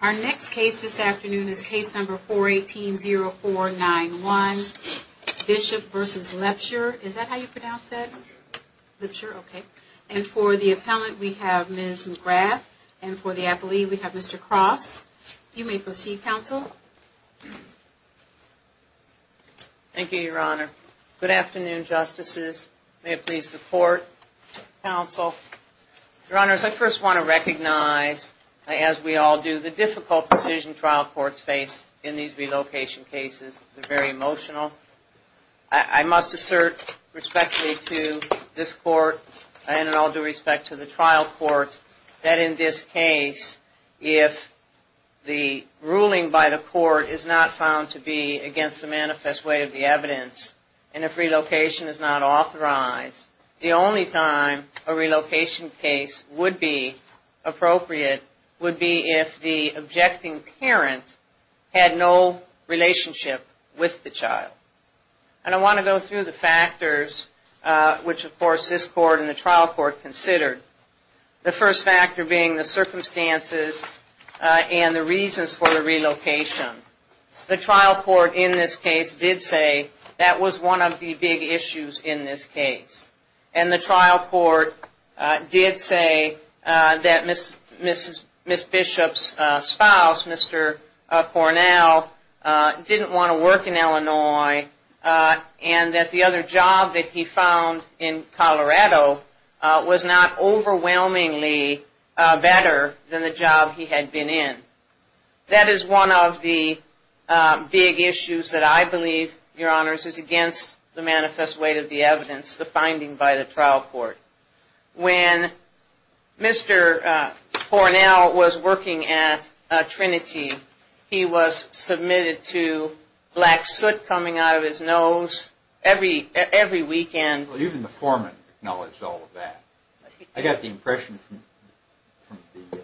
Our next case this afternoon is case number 418-0491, Bishop v. Lebshler, and for the appellant we have Ms. McGrath, and for the appellee we have Mr. Cross. You may proceed, counsel. McGrath Thank you, your honor. Good afternoon, justices. May it please the court, counsel. Your honors, I first want to recognize, as we all do, the difficult decision trial courts face in these relocation cases. They're very emotional. I must assert respectfully to this court, and in all due respect to the trial court, that in this case, if the ruling by the court is not found to be against the manifest way of the evidence, and if relocation is not authorized, the only time a relocation case would be appropriate would be if the objecting parent had no relationship with the child. And I want to go through the factors which, of course, this court and the trial court considered. The first factor being the circumstances and the reasons for the relocation. The trial court in this case did say that was one of the big issues in this case. And the trial court did say that Ms. Bishop's spouse, Mr. Cornell, didn't want to work in Illinois, and that the other job that he found in Colorado was not overwhelmingly better than the job he had been in. That is one of the big issues that I believe, your honors, is against the manifest way of the evidence, the finding by the trial court. When Mr. Cornell was working at Trinity, he was submitted to black soot coming out of his nose every weekend. Even the foreman acknowledged all of that. I got the impression from the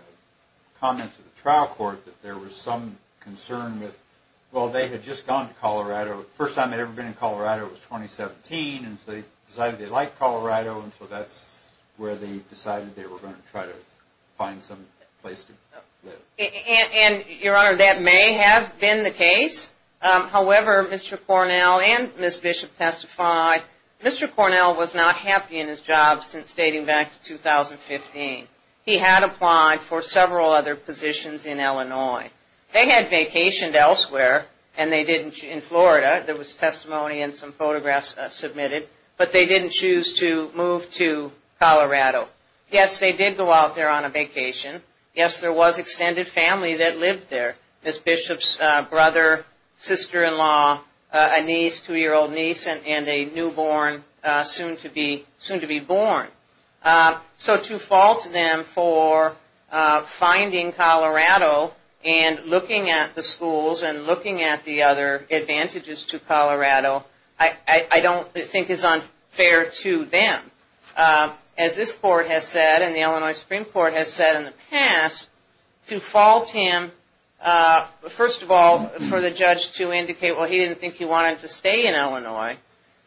comments of the trial court that there was some concern that, well, they had just gone to Colorado, the first time they had ever been to Colorado was 2017, and so they decided they liked Colorado, and so that's where they decided they were going to try to find some place to live. And, your honor, that may have been the case. However, Mr. Cornell and Ms. Bishop testified, Mr. Cornell was not happy in his job since dating back to 2015. He had applied for several other positions in Illinois. They had vacationed elsewhere in Florida. There was testimony and some photographs submitted, but they didn't choose to move to Colorado. Yes, they did go out there on a vacation. Yes, there was extended family that lived there. Ms. Bishop's brother, sister-in-law, a niece, two-year-old niece, and a newborn, soon to be born. So to fault them for finding Colorado and looking at the schools and looking at the other advantages to Colorado, I don't think is unfair to them. The Illinois Supreme Court has said in the past to fault him, first of all, for the judge to indicate, well, he didn't think he wanted to stay in Illinois.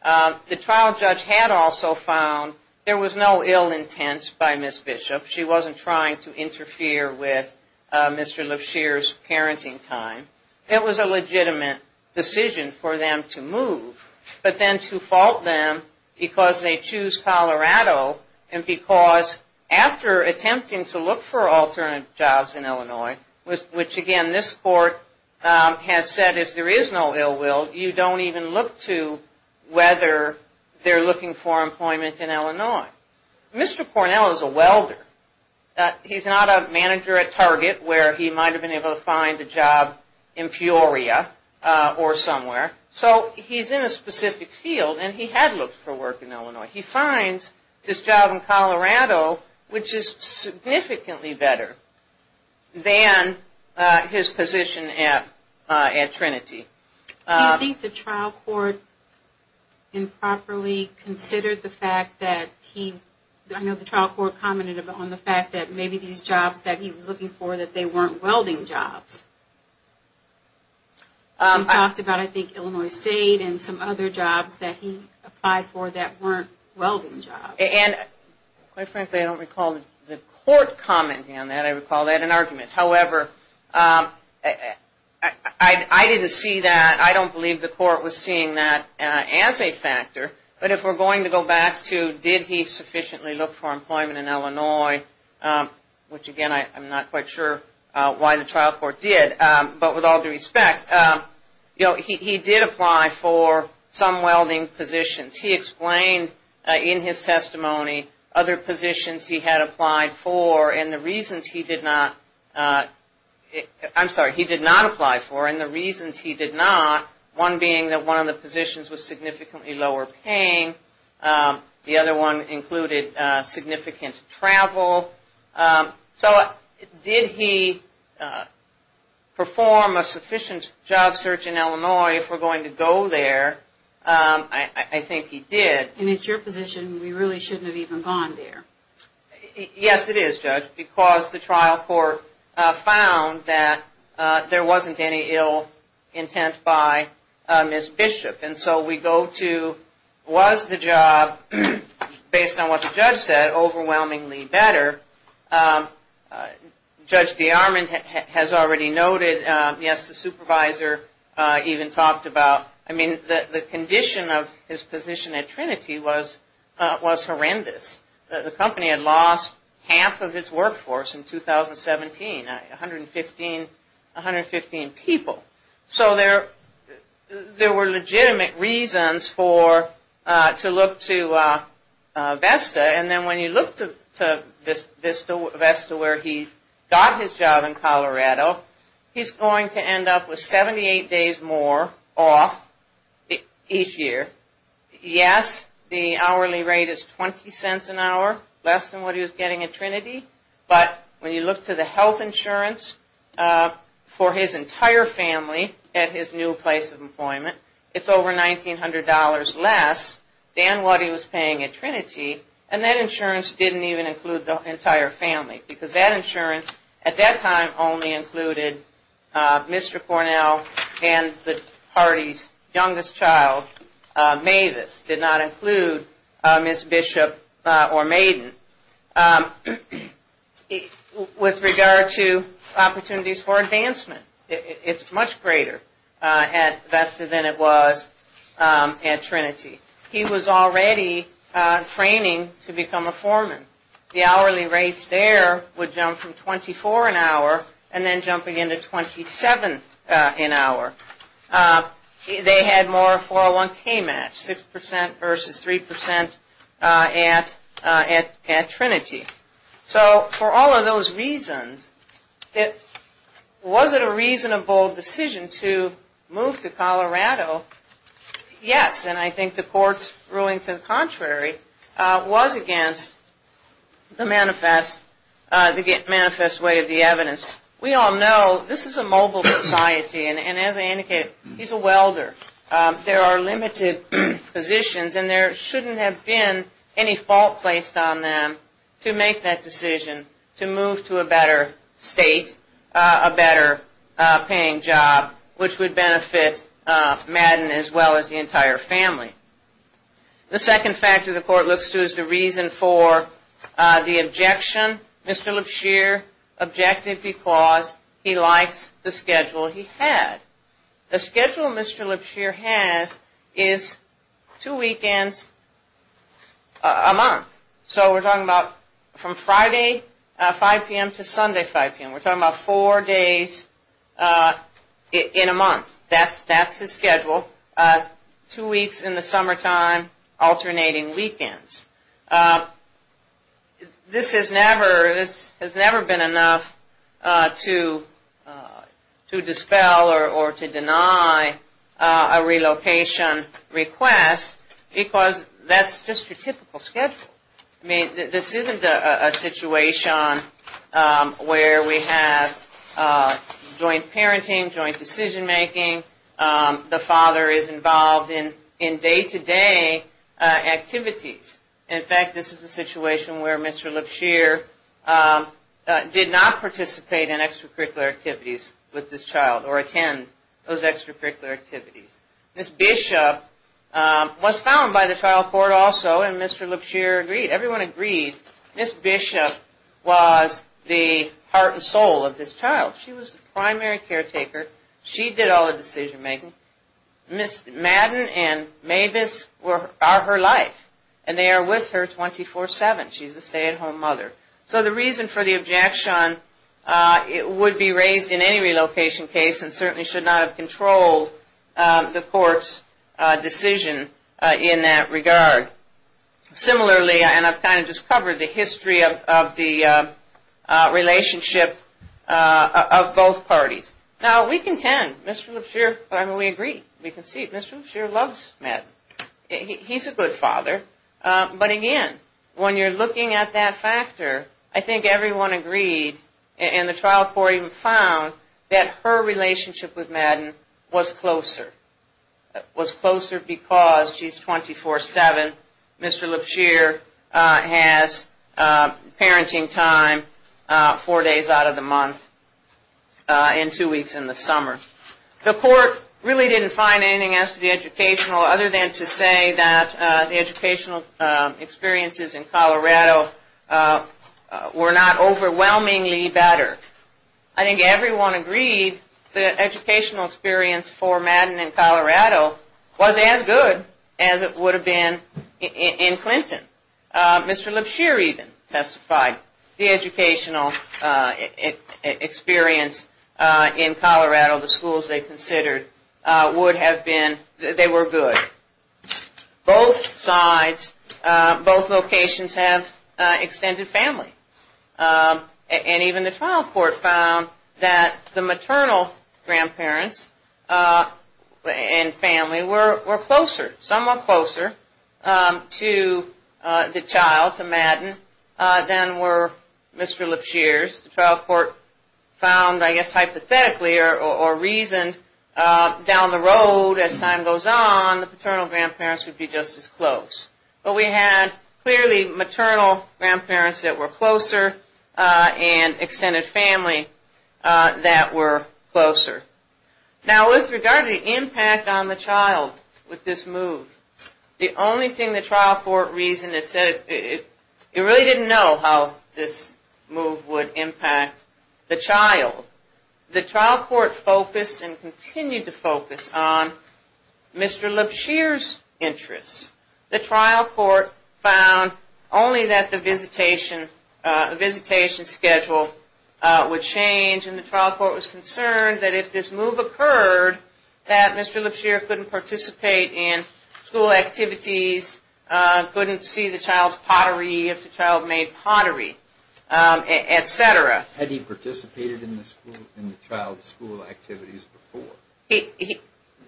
The trial judge had also found there was no ill intent by Ms. Bishop. She wasn't trying to interfere with Mr. Lipshear's parenting time. It was a legitimate decision for them to move, but then to fault them because they choose Colorado and because they didn't want to stay in Illinois. Mr. Cornell is a welder. He's not a manager at Target, where he might have been able to find a job in Peoria or somewhere. So he's in a specific field, and he had looked for work in Illinois. He finds this job in Colorado, and he's looking for employment in Illinois. He's looking for employment in Colorado, and he's looking for employment in Illinois. Which is significantly better than his position at Trinity. Do you think the trial court improperly considered the fact that he, I know the trial court commented on the fact that maybe these jobs that he was looking for, that they weren't welding jobs. He talked about, I think, Illinois State and some other jobs that he applied for that weren't welding jobs. And quite frankly, I don't recall the court commenting on that. I recall they had an argument. However, I didn't see that. I don't believe the court was seeing that as a factor. But if we're going to go back to did he sufficiently look for employment in Illinois, which again, I'm not quite sure why the trial court did, but with all due respect, he did apply for some welding positions. He explained in his testimony other positions he had applied for, and the reasons he did not, I'm sorry, he did not apply for, and the reasons he did not, one being that one of the positions was significantly lower paying. The other one included significant travel. So did he perform a sufficient job search in Illinois if we're going to go there? I think he did. And it's your position we really shouldn't have even gone there. Yes, it is, Judge, because the trial court found that there wasn't any ill intent by Ms. Bishop. And so we go to was the job, based on what the judge said, overwhelmingly better. Judge DeArmond has already noted, yes, the supervisor even talked about, I mean, the condition of his position at Trinity was horrendous. The company had lost half of its workforce in 2017, 115 people. So there were legitimate reasons to look to VESTA, and then when you look to VESTA where he got his job in Colorado, he's going to end up with 78 days more off each year. Yes, the hourly rate is 20 cents an hour, less than what he was getting at Trinity, but when you look to the health insurance for his entire family at his new place of employment, it's over $1,900 less than what he was paying at Trinity, and that insurance didn't even include the entire family. Because that insurance at that time only included Mr. Cornell and the party's youngest child, Mavis, did not include Ms. Bishop or Maiden. With regard to opportunities for advancement, it's much greater at VESTA than it was at Trinity. He was already training to become a foreman. The hourly rates there would jump from 24 an hour and then jumping into 27 an hour. They had more 401k match, 6% versus 3% at Trinity. So for all of those reasons, was it a reasonable decision to move to Colorado? Yes, and I think the court's ruling to the contrary was against the manifest way of the evidence. We all know this is a mobile society, and as I indicated, he's a welder. There are limited positions and there shouldn't have been any fault placed on them to make that decision to move to a better state, a better paying job, which would benefit Maiden as well as the entire family. The second factor the court looks to is the reason for the objection. Mr. Lipshear objected because he likes the schedule he had. The schedule Mr. Lipshear has is two weekends a month. So we're talking about from Friday 5 p.m. to Sunday 5 p.m. We're talking about four days in a month. That's his schedule. Two weeks in the summertime, alternating weekends. This has never been enough to dispel or to deny a relocation request because that's just your typical schedule. This isn't a situation where we have joint parenting, joint decision making. The father is involved in day-to-day activities. In fact, this is a situation where Mr. Lipshear did not participate in extracurricular activities with this child or attend those extracurricular activities. Ms. Bishop was found by the trial court also and Mr. Lipshear agreed. Everyone agreed Ms. Bishop was the heart and soul of this child. She was the primary caretaker. She did all the decision making. Ms. Maiden and Mavis are her life and they are with her 24-7. She's a stay-at-home mother. So the reason for the objection would be raised in any relocation case and certainly should not have controlled the court's decision in that regard. Similarly, and I've kind of just covered the history of the relationship of both parties. Now we contend, Mr. Lipshear, I mean we agree. We can see Mr. Lipshear loves Maiden. He's a good father. But again, when you're looking at that factor, I think everyone agreed and the trial court even found that her relationship with Maiden was closer. It was closer because she's 24-7. Mr. Lipshear has parenting time four days out of the month and two weeks in the summer. The court really didn't find anything else to the educational other than to say that the educational experiences in Colorado were not overwhelmingly better. I think everyone agreed the educational experience for Maiden in Colorado was as good as it would have been in Clinton. Mr. Lipshear even testified the educational experience in Colorado, the schools they considered, would have been, they were good. Both sides, both locations have extended family. And even the trial court found that the maternal grandparents and family were closer, somewhat closer to the child, to Maiden, than were Mr. Lipshear's. The trial court found, I guess hypothetically or reasoned, down the road as time goes on, the paternal grandparents would be just as close. But we had clearly maternal grandparents that were closer and extended family that were closer. Now with regard to the impact on the child with this move, the only thing the trial court reasoned, it said, it really didn't know how this move would impact the child. The trial court focused and continued to focus on Mr. Lipshear's interests. The trial court found only that the visitation schedule would change. And the trial court was concerned that if this move occurred, that Mr. Lipshear couldn't participate in school activities, couldn't see the child's pottery, if the child made pottery, etc. Had he participated in the child's school activities before?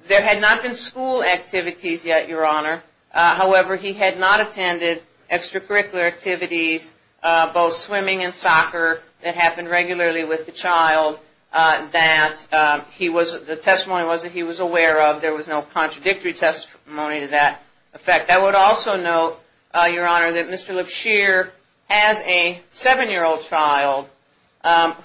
There had not been school activities yet, Your Honor. However, he had not attended extracurricular activities, both swimming and soccer, that happened regularly with the child that the testimony was that he was aware of. There was no contradictory testimony to that effect. I would also note, Your Honor, that Mr. Lipshear has a seven-year-old child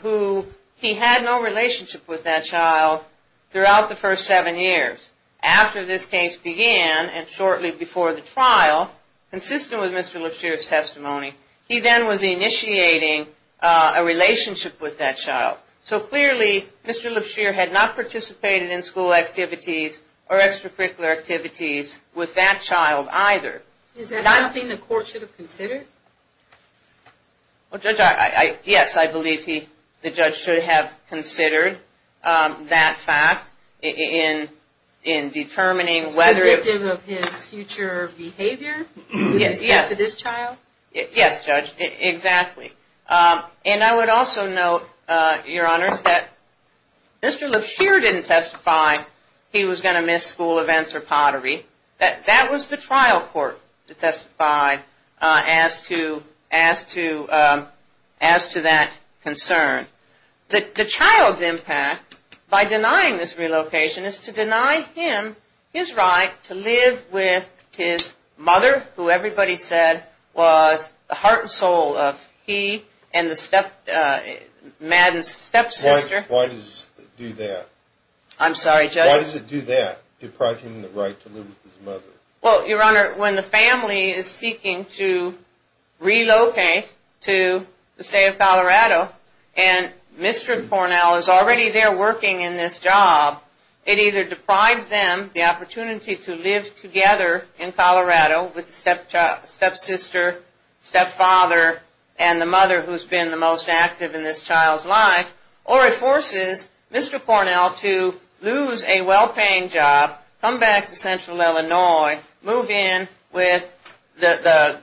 who he had no relationship with that child throughout the first seven years. After this case began and shortly before the trial, consistent with Mr. Lipshear's testimony, he then was initiating a relationship with that child. So clearly, Mr. Lipshear had not participated in school activities or extracurricular activities with that child either. Is that something the court should have considered? Well, Judge, yes, I believe the judge should have considered that fact in determining whether... It's predictive of his future behavior with respect to this child? Yes, Judge, exactly. And I would also note, Your Honor, that Mr. Lipshear didn't testify he was going to miss school events or pottery. That was the trial court that testified as to that concern. The child's impact by denying this relocation is to deny him his right to live with his mother, who everybody said was the heart and soul of he and Madden's stepsister. Why does it do that? I'm sorry, Judge? Why does it do that, depriving him the right to live with his mother? Well, Your Honor, when the family is seeking to relocate to the state of Colorado and Mr. Cornell is already there working in this job, it either deprives them the opportunity to live together in Colorado with the stepsister, stepfather, and the mother who's been the most active in this child's life, or it forces Mr. Cornell to lose a well-paying job, come back to central Illinois, move in with the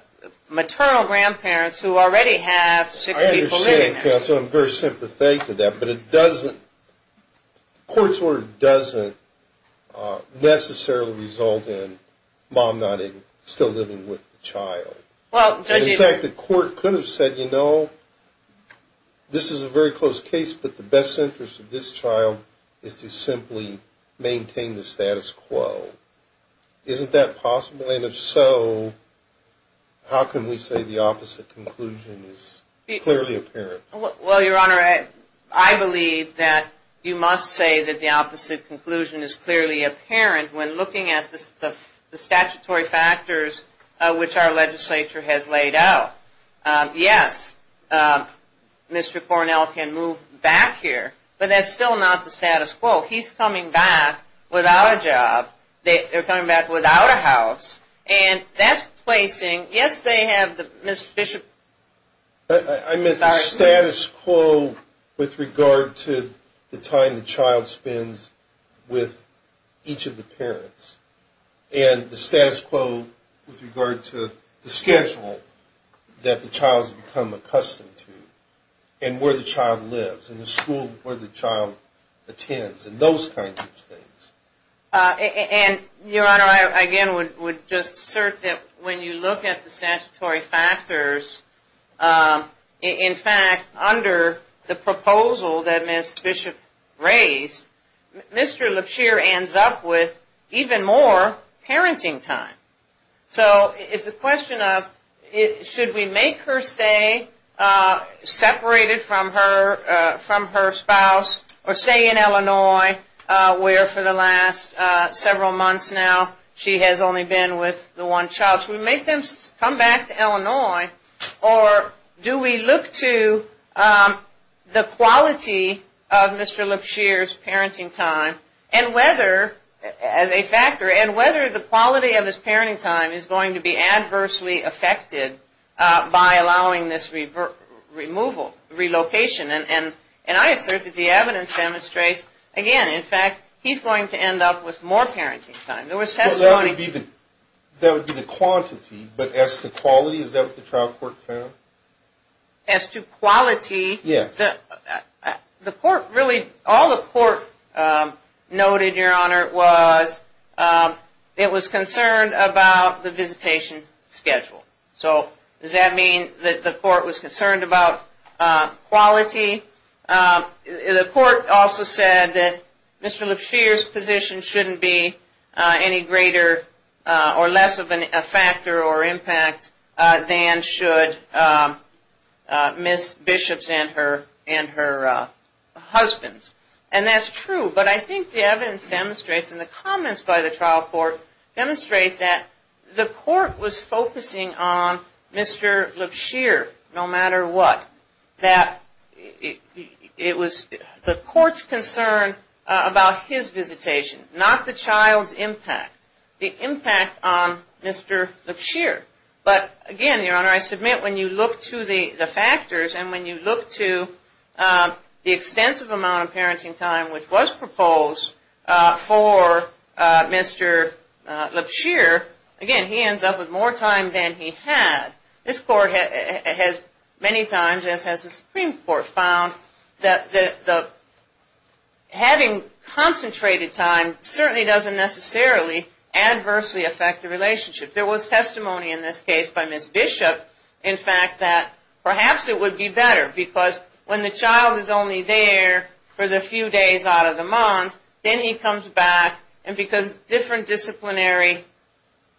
maternal grandparents who already have six people living there. I understand, Counsel. I'm very sympathetic to that. But it doesn't... the court's order doesn't necessarily result in Mom not even still living with the child. Well, Judge... In fact, the court could have said, you know, this is a very close case, but the best interest of this child is to simply maintain the status quo. Isn't that possible? And if so, how can we say the opposite conclusion is clearly apparent? Well, Your Honor, I believe that you must say that the opposite conclusion is clearly apparent when looking at the statutory factors which our legislature has laid out. Yes, Mr. Cornell can move back here, but that's still not the status quo. He's coming back without a job. They're coming back without a house. And that's placing... yes, they have the... Mr. Bishop? I meant the status quo with regard to the time the child spends with each of the parents. And the status quo with regard to the schedule that the child's become accustomed to, and where the child lives, and the school where the child attends, and those kinds of things. And, Your Honor, I again would just assert that when you look at the statutory factors, in fact, under the proposal that Ms. Bishop raised, Mr. Lipshear ends up with even more parenting time. So it's a question of should we make her stay separated from her spouse, or stay in Illinois where for the last several months now she has only been with the one child? Should we make them come back to Illinois, or do we look to the quality of Mr. Lipshear's parenting time and whether, as a factor, and whether the quality of his parenting time is going to be adversely affected by allowing this removal, relocation. And I assert that the evidence demonstrates, again, in fact, he's going to end up with more parenting time. Well, that would be the quantity, but as to quality, is that what the trial court found? As to quality? Yes. The court really, all the court noted, Your Honor, was it was concerned about the visitation schedule. So does that mean that the court was concerned about quality? The court also said that Mr. Lipshear's position shouldn't be any greater or less of a factor or impact than should Ms. Bishop's and her husband's. And that's true. But I think the evidence demonstrates, and the comments by the trial court demonstrate that the court was focusing on Mr. Lipshear no matter what. That it was the court's concern about his visitation, not the child's impact. The impact on Mr. Lipshear. But, again, Your Honor, I submit when you look to the factors and when you look to the extensive amount of parenting time which was proposed for Mr. Lipshear, again, he ends up with more time than he had. This court has many times, as has the Supreme Court, found that having concentrated time certainly doesn't necessarily adversely affect the relationship. There was testimony in this case by Ms. Bishop, in fact, that perhaps it would be better. Because when the child is only there for the few days out of the month, then he comes back. And because different disciplinary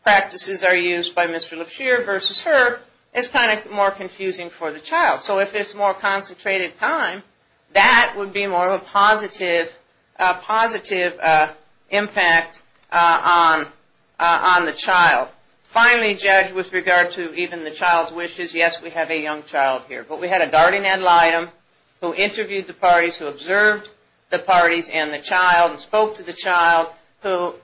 practices are used by Mr. Lipshear versus her, it's kind of more confusing for the child. So if it's more concentrated time, that would be more of a positive impact on the child. Finally, Judge, with regard to even the child's wishes, yes, we have a young child here. But we had a guardian ad litem who interviewed the parties, who observed the parties and the child and spoke to the child, who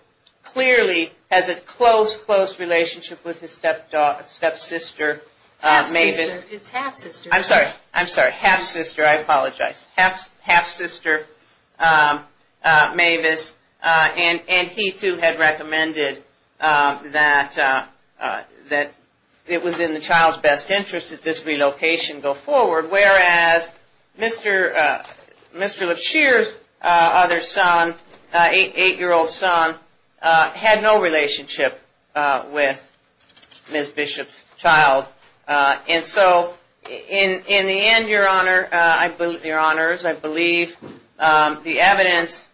clearly has a close, close relationship with his stepsister, Mavis. It's half-sister. I'm sorry. I'm sorry. Half-sister. I apologize. Half-sister, Mavis. And he, too, had recommended that it was in the child's best interest that this relocation go forward. Whereas Mr. Lipshear's other son, 8-year-old son, had no relationship with Ms. Bishop's child. And so, in the end, your honors, I believe the evidence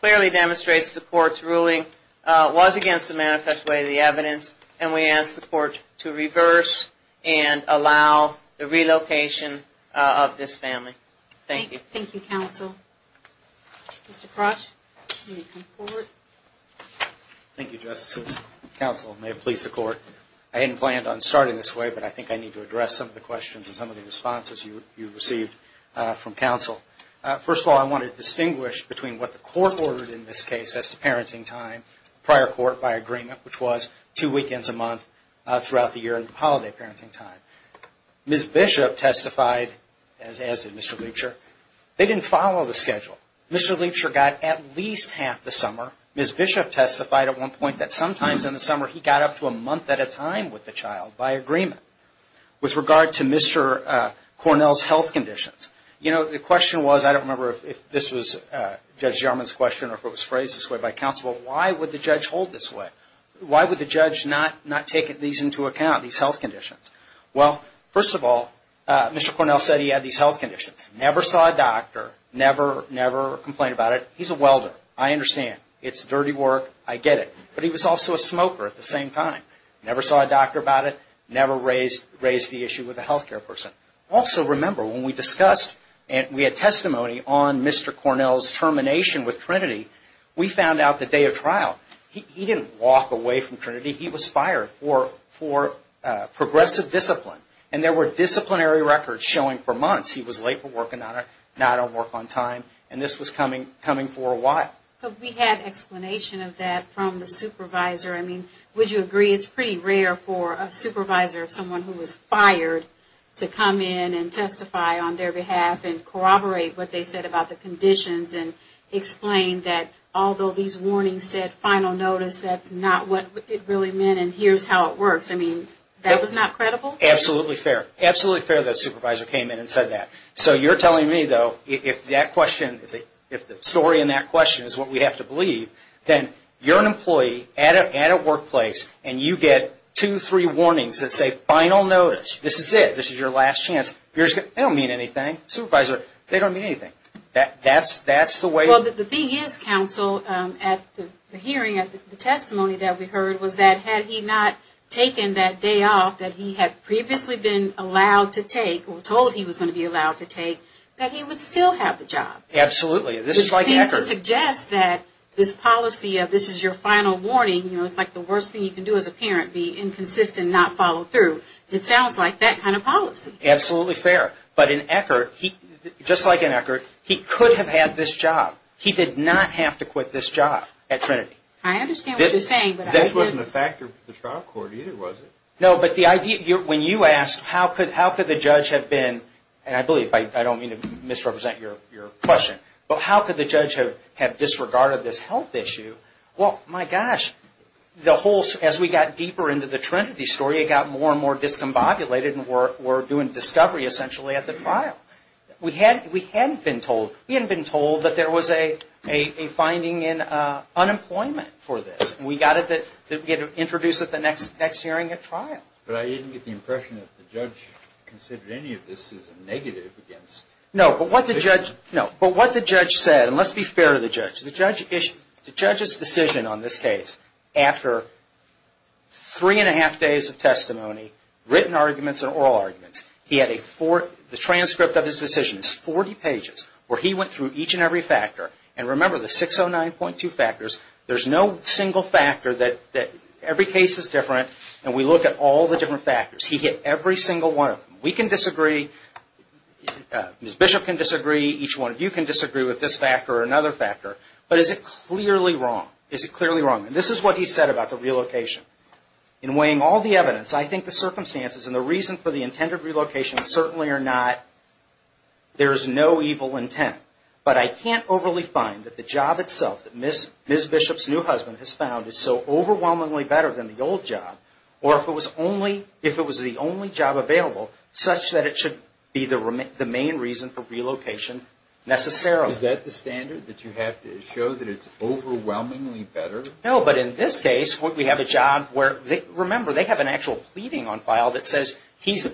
clearly demonstrates the court's ruling was against the manifest way of the evidence. And we ask the court to reverse and allow the relocation of this family. Thank you. Thank you, counsel. Mr. Crotch, you may come forward. Thank you, Justice. Counsel, may it please the court. I hadn't planned on starting this way, but I think I need to address some of the questions and some of the responses you received from counsel. First of all, I want to distinguish between what the court ordered in this case as to parenting time. Prior court, by agreement, which was two weekends a month throughout the year in the holiday parenting time. Ms. Bishop testified, as did Mr. Lipshear, they didn't follow the schedule. Mr. Lipshear got at least half the summer. Ms. Bishop testified at one point that sometimes in the summer he got up to a month at a time with the child, by agreement. With regard to Mr. Cornell's health conditions, you know, the question was, I don't remember if this was Judge Jarman's question or if it was phrased this way by counsel, why would the judge hold this way? Why would the judge not take these into account, these health conditions? Well, first of all, Mr. Cornell said he had these health conditions. Never saw a doctor. Never, never complained about it. He's a welder. I understand. It's dirty work. I get it. But he was also a smoker at the same time. Never saw a doctor about it. Never raised the issue with a health care person. Also, remember, when we discussed and we had testimony on Mr. Cornell's termination with Trinity, we found out the day of trial, he didn't walk away from Trinity. He was fired for progressive discipline. And there were disciplinary records showing for months he was late for work and not on work on time. And this was coming for a while. But we had explanation of that from the supervisor. I mean, would you agree it's pretty rare for a supervisor of someone who was fired to come in and testify on their behalf and corroborate what they said about the conditions and explain that although these warnings said final notice, that's not what it really meant and here's how it works. I mean, that was not credible? Absolutely fair. Absolutely fair that a supervisor came in and said that. So you're telling me, though, if that question, if the story in that question is what we have to believe, then you're an employee at a workplace and you get two, three warnings that say final notice. This is it. This is your last chance. They don't mean anything. Supervisor, they don't mean anything. That's the way. Well, the thing is, counsel, at the hearing, at the testimony that we heard, was that had he not taken that day off that he had previously been allowed to take or told he was going to be allowed to take, that he would still have the job. Absolutely. This seems to suggest that this policy of this is your final warning, it's like the worst thing you can do as a parent, be inconsistent, not follow through. It sounds like that kind of policy. Absolutely fair. But in Eckert, just like in Eckert, he could have had this job. He did not have to quit this job at Trinity. I understand what you're saying. This wasn't a factor for the trial court either, was it? No, but the idea, when you asked how could the judge have been, and I believe, I don't mean to misrepresent your question, but how could the judge have disregarded this health issue? Well, my gosh, as we got deeper into the Trinity story, it got more and more discombobulated and we're doing discovery, essentially, at the trial. We hadn't been told that there was a finding in unemployment for this. We got it introduced at the next hearing at trial. But I didn't get the impression that the judge considered any of this as a negative against. No, but what the judge said, and let's be fair to the judge. The judge's decision on this case, after three and a half days of testimony, written arguments and oral arguments, he had a transcript of his decision. It's 40 pages where he went through each and every factor. And remember, the 609.2 factors, there's no single factor that every case is different, and we look at all the different factors. He hit every single one of them. We can disagree. Ms. Bishop can disagree. Each one of you can disagree with this factor or another factor. But is it clearly wrong? Is it clearly wrong? And this is what he said about the relocation. In weighing all the evidence, I think the circumstances and the reason for the intended relocation certainly are not, there is no evil intent. But I can't overly find that the job itself that Ms. Bishop's new husband has found is so overwhelmingly better than the old job, or if it was only, if it was the only job available, such that it should be the main reason for relocation necessarily. Is that the standard, that you have to show that it's overwhelmingly better? No, but in this case, we have a job where, remember, they have an actual pleading on file that says he's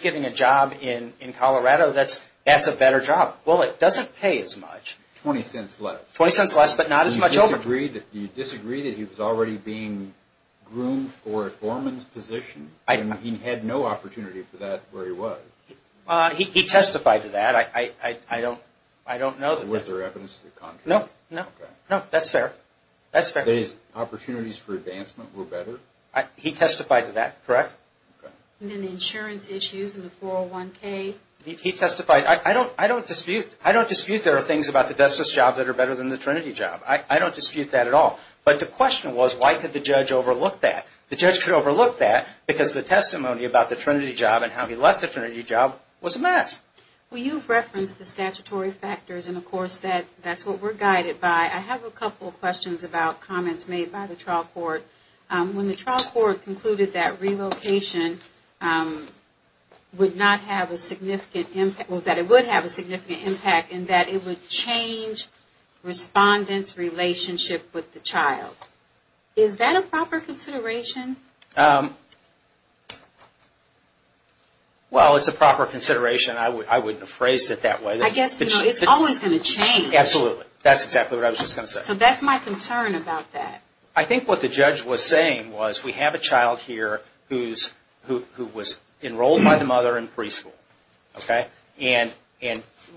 getting a job in Colorado, that's a better job. Well, it doesn't pay as much. 20 cents less. 20 cents less, but not as much overtime. Do you disagree that he was already being groomed for a foreman's position? He had no opportunity for that where he was. He testified to that. I don't know. Was there evidence to the contrary? No, no. No, that's fair. That's fair. His opportunities for advancement were better? He testified to that, correct. Okay. And then the insurance issues and the 401K? He testified. I don't dispute. I don't dispute there are things about the Destiny's job that are better than the Trinity job. I don't dispute that at all. But the question was, why could the judge overlook that? The judge could overlook that because the testimony about the Trinity job and how he left the Trinity job was a mess. Well, you've referenced the statutory factors, and, of course, that's what we're guided by. I have a couple of questions about comments made by the trial court. When the trial court concluded that relocation would not have a significant impact, well, that it would have a significant impact in that it would change respondents' relationship with the child, is that a proper consideration? Well, it's a proper consideration. I wouldn't have phrased it that way. I guess, you know, it's always going to change. Absolutely. That's exactly what I was just going to say. So that's my concern about that. I think what the judge was saying was we have a child here who was enrolled by the mother in preschool. Okay? And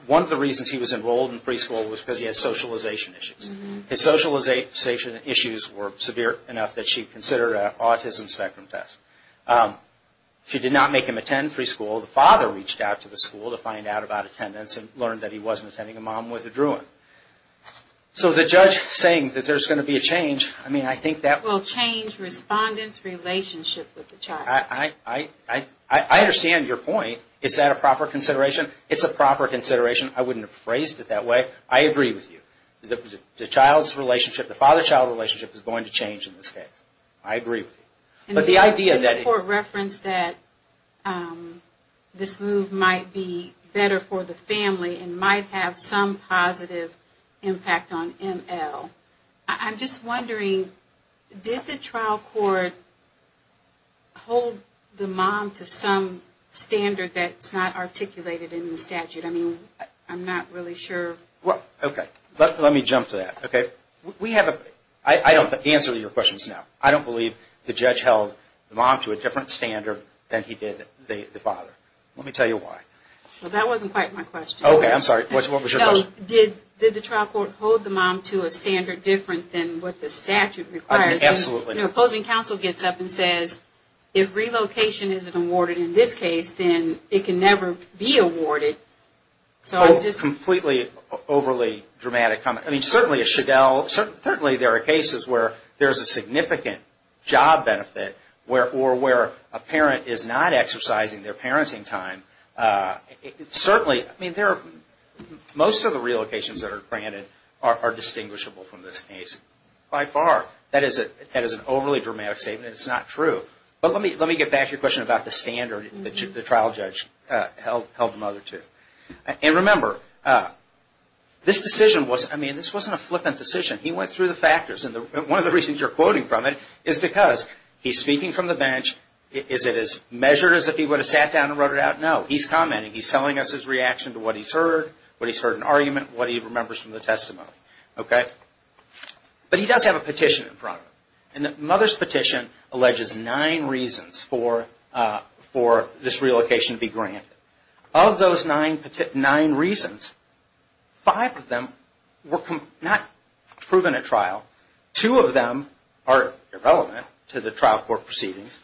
one of the reasons he was enrolled in preschool was because he had socialization issues. His socialization issues were severe enough that she considered an autism spectrum test. She did not make him attend preschool. The father reached out to the school to find out about attendance and learned that he wasn't attending a mom with a Druin. So the judge saying that there's going to be a change, I mean, I think that... Well, change respondents' relationship with the child. I understand your point. Is that a proper consideration? It's a proper consideration. I wouldn't have phrased it that way. I agree with you. The child's relationship, the father-child relationship is going to change in this case. I agree with you. But the idea that... The court referenced that this move might be better for the family and might have some positive impact on ML. I'm just wondering, did the trial court hold the mom to some standard that's not articulated in the statute? I mean, I'm not really sure. Okay. Let me jump to that. Okay? We have a... I don't answer your questions now. I don't believe the judge held the mom to a different standard than he did the father. Let me tell you why. That wasn't quite my question. Okay. I'm sorry. What was your question? Did the trial court hold the mom to a standard different than what the statute requires? Absolutely. The opposing counsel gets up and says, if relocation isn't awarded in this case, then it can never be awarded. So I'm just... A completely overly dramatic comment. I mean, certainly there are cases where there's a significant job benefit or where a parent is not exercising their parenting time. Certainly, I mean, most of the relocations that are granted are distinguishable from this case. By far. That is an overly dramatic statement. It's not true. But let me get back to your question about the standard the trial judge held the mother to. And remember, this decision was... I mean, this wasn't a flippant decision. He went through the factors. And one of the reasons you're quoting from it is because he's speaking from the bench. Is it as measured as if he would have sat down and wrote it out? No. He's commenting. He's telling us his reaction to what he's heard, what he's heard in argument, what he remembers from the testimony. Okay? But he does have a petition in front of him. And the mother's petition alleges nine reasons for this relocation to be granted. Of those nine reasons, five of them were not proven at trial. Two of them are irrelevant to the trial court proceedings.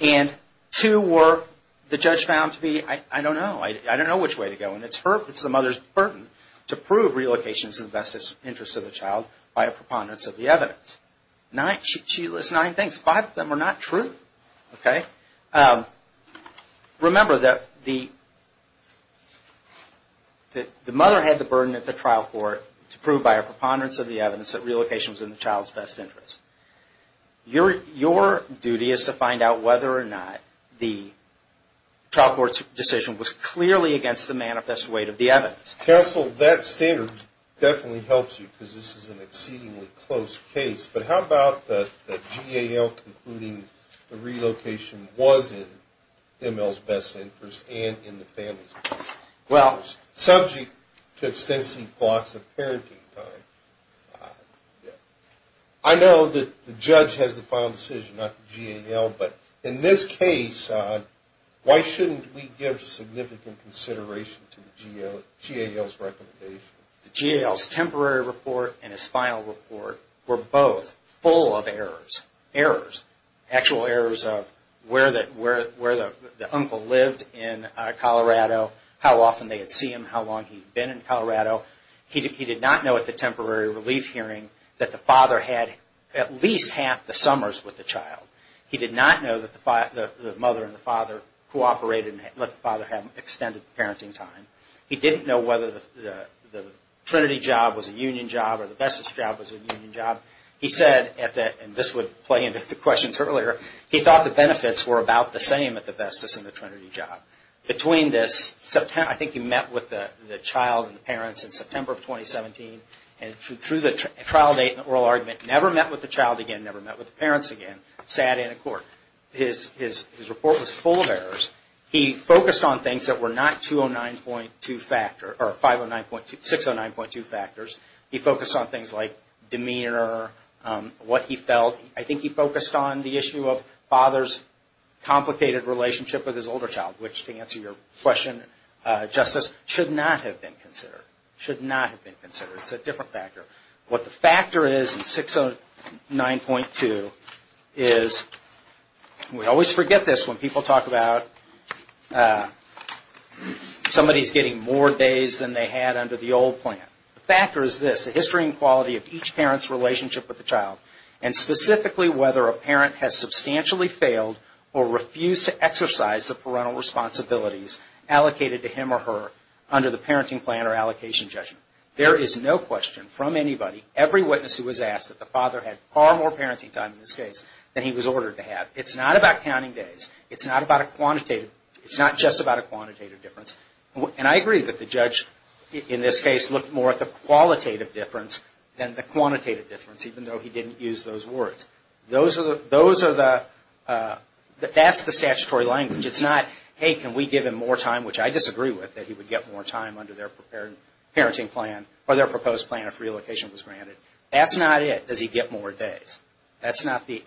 And two were the judge found to be, I don't know. I don't know which way to go. And it's the mother's burden to prove relocation is in the best interest of the child by a preponderance of the evidence. She lists nine things. Five of them are not true. Okay? Remember that the mother had the burden at the trial court to prove by a preponderance of the evidence that relocation was in the child's best interest. Your duty is to find out whether or not the trial court's decision was clearly against the manifest weight of the evidence. Counsel, that standard definitely helps you because this is an exceedingly close case. But how about the GAL concluding the relocation was in ML's best interest and in the family's best interest, subject to extensive blocks of parenting time? I know that the judge has the final decision, not the GAL. But in this case, why shouldn't we give significant consideration to the GAL's recommendation? The GAL's temporary report and his final report were both full of errors. Errors. Actual errors of where the uncle lived in Colorado, how often they had seen him, how long he'd been in Colorado. He did not know at the temporary relief hearing that the father had at least half the summers with the child. He did not know that the mother and the father cooperated and let the father have extended parenting time. He didn't know whether the Trinity job was a union job or the Vestas job was a union job. He said at that, and this would play into the questions earlier, he thought the benefits were about the same at the Vestas and the Trinity job. Between this, I think he met with the child and the parents in September of 2017, and through the trial date and the oral argument, never met with the child again, never met with the parents again, sat in a court. His report was full of errors. He focused on things that were not 609.2 factors. He focused on things like demeanor, what he felt. I think he focused on the issue of father's complicated relationship with his older child, which to answer your question, Justice, should not have been considered. Should not have been considered. It's a different factor. What the factor is in 609.2 is, we always forget this when people talk about somebody's getting more days than they had under the old plan. The factor is this, the history and quality of each parent's relationship with the child. And specifically, whether a parent has substantially failed or refused to exercise the parental responsibilities allocated to him or her under the parenting plan or allocation judgment. There is no question from anybody, every witness who was asked, that the father had far more parenting time in this case than he was ordered to have. It's not about counting days. It's not just about a quantitative difference. And I agree that the judge, in this case, looked more at the qualitative difference than the quantitative difference, even though he didn't use those words. Those are the, that's the statutory language. It's not, hey, can we give him more time, which I disagree with, that he would get more time under their parenting plan or their proposed plan if reallocation was granted. That's not it, does he get more days. That's not the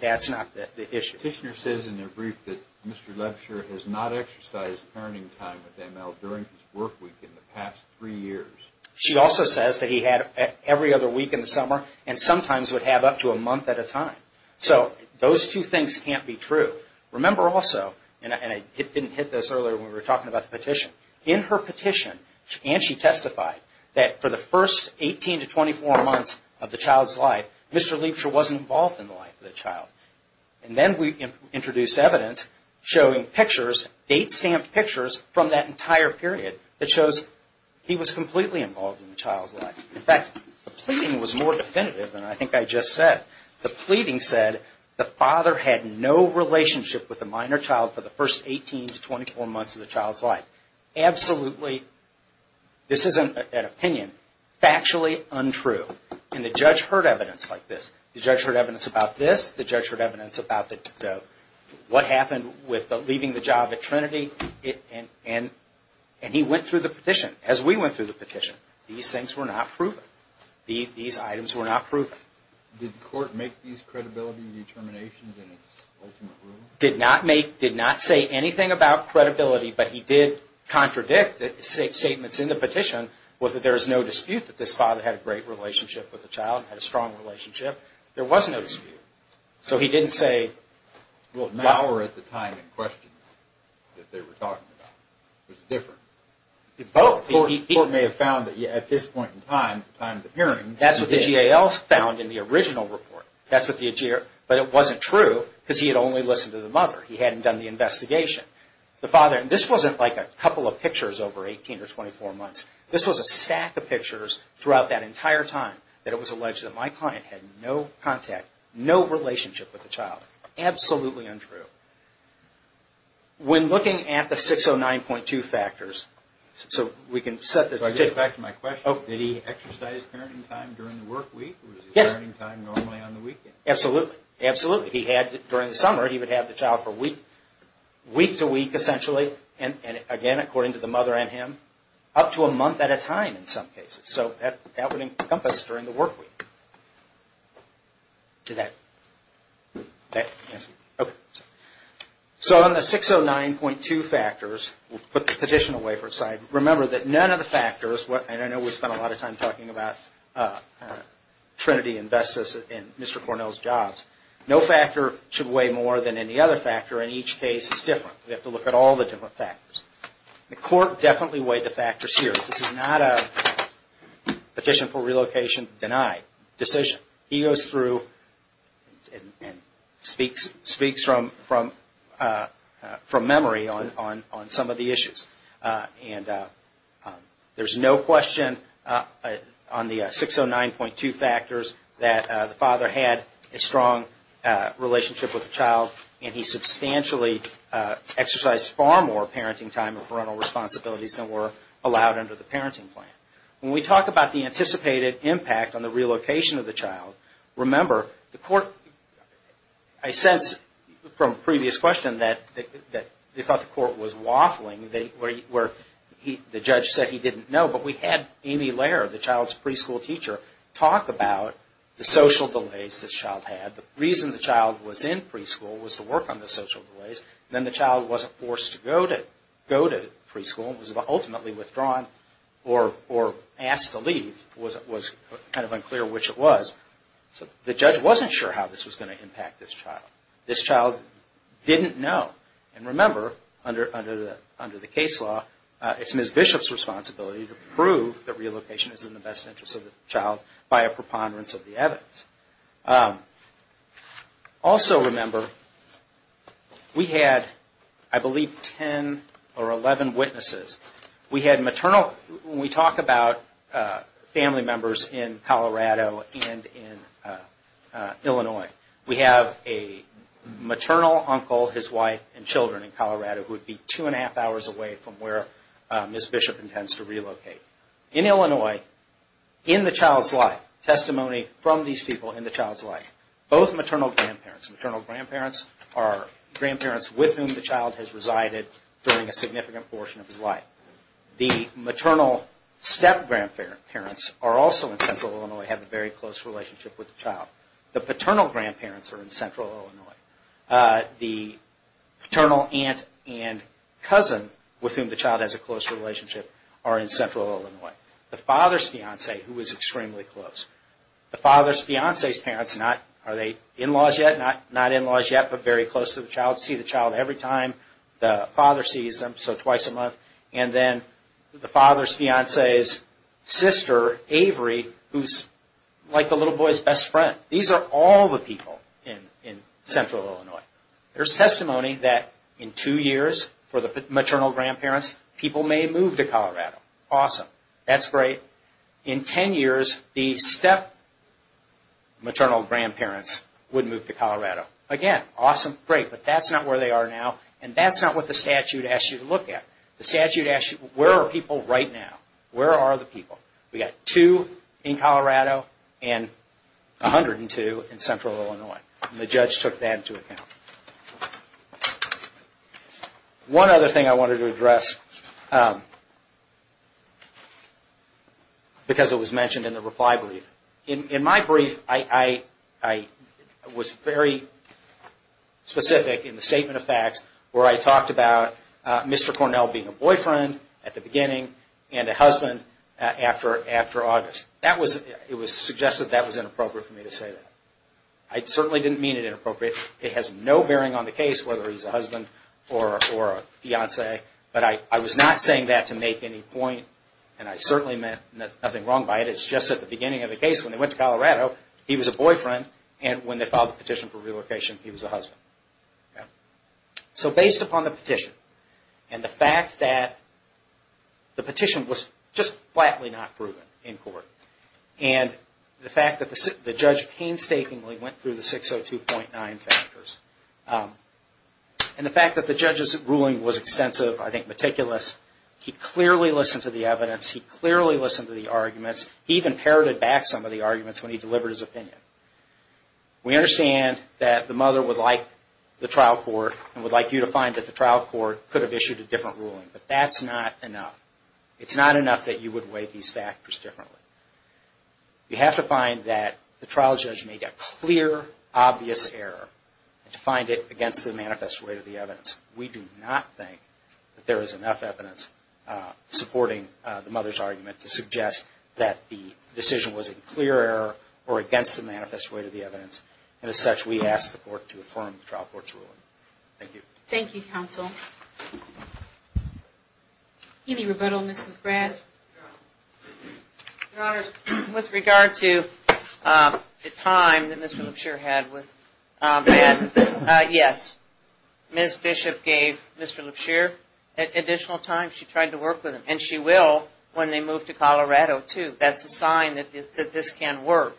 issue. Tishner says in her brief that Mr. Lebsher has not exercised parenting time with ML during his work week in the past three years. She also says that he had every other week in the summer and sometimes would have up to a month at a time. So those two things can't be true. Remember also, and I didn't hit this earlier when we were talking about the petition. In her petition, and she testified, that for the first 18 to 24 months of the child's life, Mr. Lebsher wasn't involved in the life of the child. And then we introduced evidence showing pictures, date-stamped pictures from that entire period that shows he was completely involved in the child's life. In fact, the pleading was more definitive than I think I just said. The pleading said the father had no relationship with the minor child for the first 18 to 24 months of the child's life. Absolutely, this isn't an opinion, factually untrue. And the judge heard evidence like this. The judge heard evidence about this. The judge heard evidence about what happened with leaving the job at Trinity. And he went through the petition, as we went through the petition. These things were not proven. These items were not proven. Did the court make these credibility determinations in its ultimate ruling? Did not make, did not say anything about credibility, but he did contradict the statements in the petition, whether there is no dispute that this father had a great relationship with the child, had a strong relationship. There was no dispute. So he didn't say, well, now or at the time in question that they were talking about. It was different. The court may have found that at this point in time, at the time of the hearing, he did. That's what the GAL found in the original report. But it wasn't true because he had only listened to the mother. He hadn't done the investigation. The father, and this wasn't like a couple of pictures over 18 or 24 months. This was a stack of pictures throughout that entire time that it was alleged that my client had no contact, no relationship with the child. Absolutely untrue. When looking at the 609.2 factors, so we can set the... So I get back to my question. Did he exercise parenting time during the work week or was his parenting time normally on the weekend? Absolutely, absolutely. During the summer, he would have the child for a week, week to week essentially. And again, according to the mother and him, up to a month at a time in some cases. So that would encompass during the work week. So on the 609.2 factors, we'll put the petition away for a second. Remember that none of the factors, and I know we spend a lot of time talking about Trinity and Vestas and Mr. Cornell's jobs. No factor should weigh more than any other factor and each case is different. We have to look at all the different factors. The court definitely weighed the factors here. This is not a petition for relocation denied decision. He goes through and speaks from memory on some of the issues. And there's no question on the 609.2 factors that the father had a strong relationship with the child. And he substantially exercised far more parenting time and parental responsibilities than were allowed under the parenting plan. When we talk about the anticipated impact on the relocation of the child, remember the court... I sense from a previous question that they thought the court was waffling where the judge said he didn't know. But we had Amy Lehrer, the child's preschool teacher, talk about the social delays the child had. The reason the child was in preschool was to work on the social delays. Then the child wasn't forced to go to preschool and was ultimately withdrawn or asked to leave. It was kind of unclear which it was. The judge wasn't sure how this was going to impact this child. This child didn't know. And remember, under the case law, it's Ms. Bishop's responsibility to prove that relocation is in the best interest of the child by a preponderance of the evidence. Also remember, we had, I believe, 10 or 11 witnesses. We had maternal... When we talk about family members in Colorado and in Illinois, we have a maternal uncle, his wife, and children in Colorado who would be two and a half hours away from where Ms. Bishop intends to relocate. In Illinois, in the child's life, testimony from these people in the child's life, both maternal grandparents... The maternal step-grandparents are also in central Illinois, have a very close relationship with the child. The paternal grandparents are in central Illinois. The paternal aunt and cousin, with whom the child has a close relationship, are in central Illinois. The father's fiancé, who is extremely close. The father's fiancé's parents, are they in-laws yet? Not in-laws yet, but very close to the child. See the child every time. The father sees them, so twice a month. And then the father's fiancé's sister, Avery, who's like the little boy's best friend. These are all the people in central Illinois. There's testimony that in two years, for the maternal grandparents, people may move to Colorado. Awesome. That's great. In 10 years, the step-maternal grandparents would move to Colorado. Again, awesome, great. But that's not where they are now, and that's not what the statute asks you to look at. The statute asks you, where are people right now? Where are the people? We've got two in Colorado, and 102 in central Illinois. And the judge took that into account. One other thing I wanted to address, because it was mentioned in the reply brief. In my brief, I was very specific in the statement of facts, where I talked about Mr. Cornell being a boyfriend at the beginning, and a husband after August. It was suggested that was inappropriate for me to say that. I certainly didn't mean it inappropriate. It has no bearing on the case, whether he's a husband or a fiancé. But I was not saying that to make any point, and I certainly meant nothing wrong by it. It's just that at the beginning of the case, when they went to Colorado, he was a boyfriend, and when they filed the petition for relocation, he was a husband. So based upon the petition, and the fact that the petition was just flatly not proven in court, and the fact that the judge painstakingly went through the 602.9 factors, and the fact that the judge's ruling was extensive, I think meticulous, he clearly listened to the evidence, he clearly listened to the arguments, he even parroted back some of the arguments when he delivered his opinion. We understand that the mother would like the trial court, and would like you to find that the trial court could have issued a different ruling. But that's not enough. It's not enough that you would weigh these factors differently. You have to find that the trial judge made a clear, obvious error, and to find it against the manifest weight of the evidence. We do not think that there is enough evidence supporting the mother's argument to suggest that the decision was a clear error, or against the manifest weight of the evidence. And as such, we ask the court to affirm the trial court's ruling. Thank you. Thank you, counsel. Any rebuttal, Ms. McGrath? Your Honor, with regard to the time that Mr. Lipshear had with Madden, yes, Ms. Bishop gave Mr. Lipshear additional time. She tried to work with him, and she will when they move to Colorado, too. That's a sign that this can work.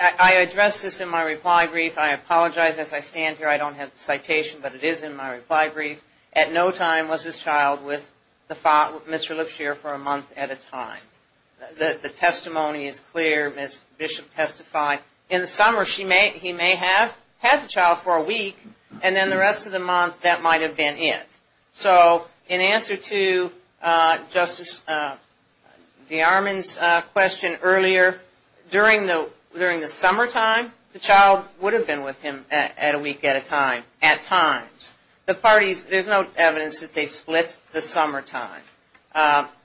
I addressed this in my reply brief. I apologize, as I stand here, I don't have the citation, but it is in my reply brief. At no time was this child with Mr. Lipshear for a month at a time. The testimony is clear. Ms. Bishop testified. In the summer, he may have had the child for a week, and then the rest of the month, that might have been it. So in answer to Justice DeArmond's question earlier, during the summertime, the child would have been with him at a week at a time, at times. There's no evidence that they split the summertime.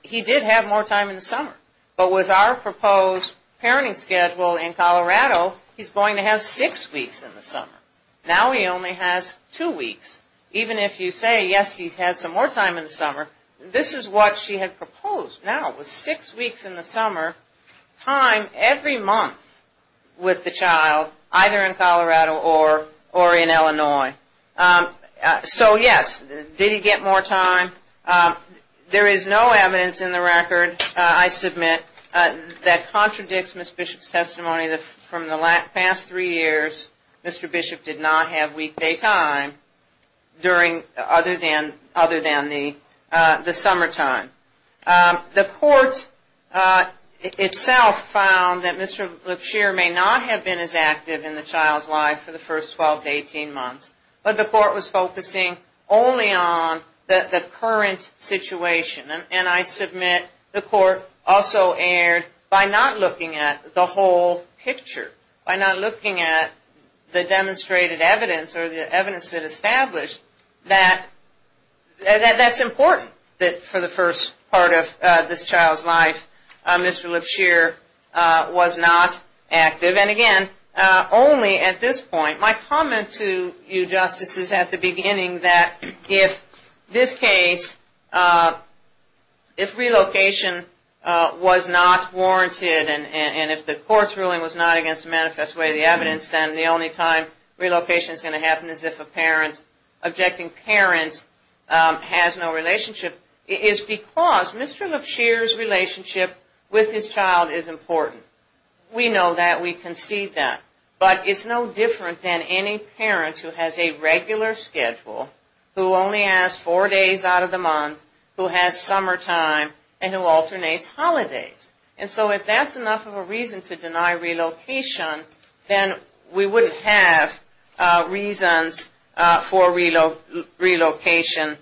He did have more time in the summer, but with our proposed parenting schedule in Colorado, he's going to have six weeks in the summer. Now he only has two weeks. Even if you say, yes, he's had some more time in the summer, this is what she had proposed. No, it was six weeks in the summer, time every month with the child, either in Colorado or in Illinois. So, yes, did he get more time? There is no evidence in the record, I submit, that contradicts Ms. Bishop's testimony. From the past three years, Mr. Bishop did not have weekday time other than the summertime. The court itself found that Mr. Lipshear may not have been as active in the child's life for the first 12 to 18 months, but the court was focusing only on the current situation. And I submit the court also erred by not looking at the whole picture, by not looking at the demonstrated evidence or the evidence that established that that's important, that for the first part of this child's life, Mr. Lipshear was not active. And again, only at this point. My comment to you, Justice, is at the beginning that if this case, if relocation was not warranted, and if the court's ruling was not against the manifest way of the evidence, then the only time relocation is going to happen is if an objecting parent has no relationship, is because Mr. Lipshear's relationship with his child is important. We know that. We can see that. But it's no different than any parent who has a regular schedule, who only has four days out of the month, who has summertime, and who alternates holidays. And so if that's enough of a reason to deny relocation, then we wouldn't have reasons for relocation.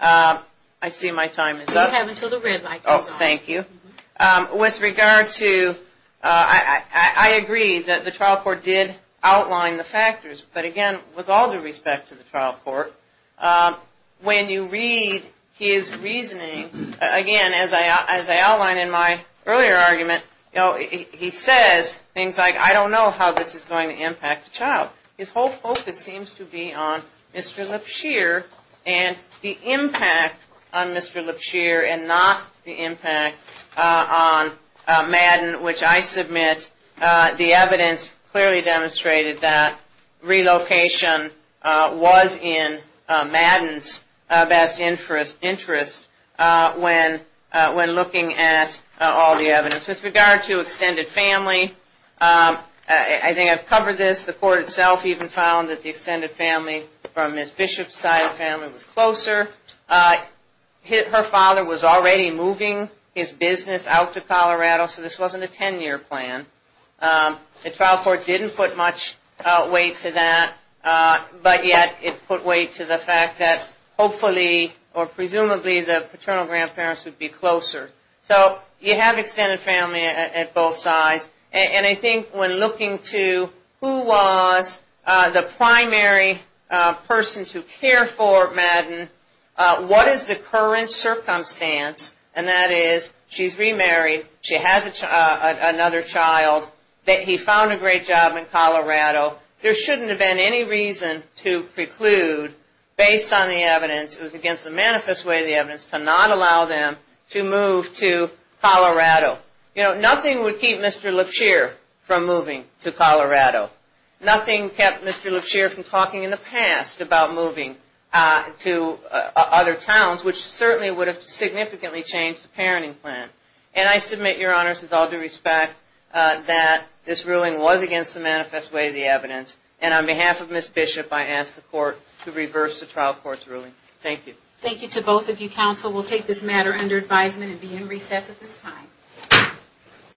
I see my time is up. You have until the red light comes on. Oh, thank you. With regard to, I agree that the trial court did outline the factors. But again, with all due respect to the trial court, when you read his reasoning, again, as I outlined in my earlier argument, he says things like, I don't know how this is going to impact the child. His whole focus seems to be on Mr. Lipshear and the impact on Mr. Lipshear and not the impact on Madden, which I submit the evidence clearly demonstrated that relocation was in Madden's best interest when looking at all the evidence. With regard to extended family, I think I've covered this. The court itself even found that the extended family from Ms. Bishop's side of the family was closer. Her father was already moving his business out to Colorado, so this wasn't a 10-year plan. The trial court didn't put much weight to that, but yet it put weight to the fact that hopefully or presumably the paternal grandparents would be closer. So you have extended family at both sides. And I think when looking to who was the primary person to care for Madden, what is the current circumstance, and that is she's remarried, she has another child, he found a great job in Colorado. There shouldn't have been any reason to preclude, based on the evidence, it was against the manifest way of the evidence, to not allow them to move to Colorado. You know, nothing would keep Mr. Lipshear from moving to Colorado. Nothing kept Mr. Lipshear from talking in the past about moving to other towns, which certainly would have significantly changed the parenting plan. And I submit, Your Honors, with all due respect, that this ruling was against the manifest way of the evidence. And on behalf of Ms. Bishop, I ask the court to reverse the trial court's ruling. Thank you. Thank you to both of you. Counsel will take this matter under advisement and be in recess at this time.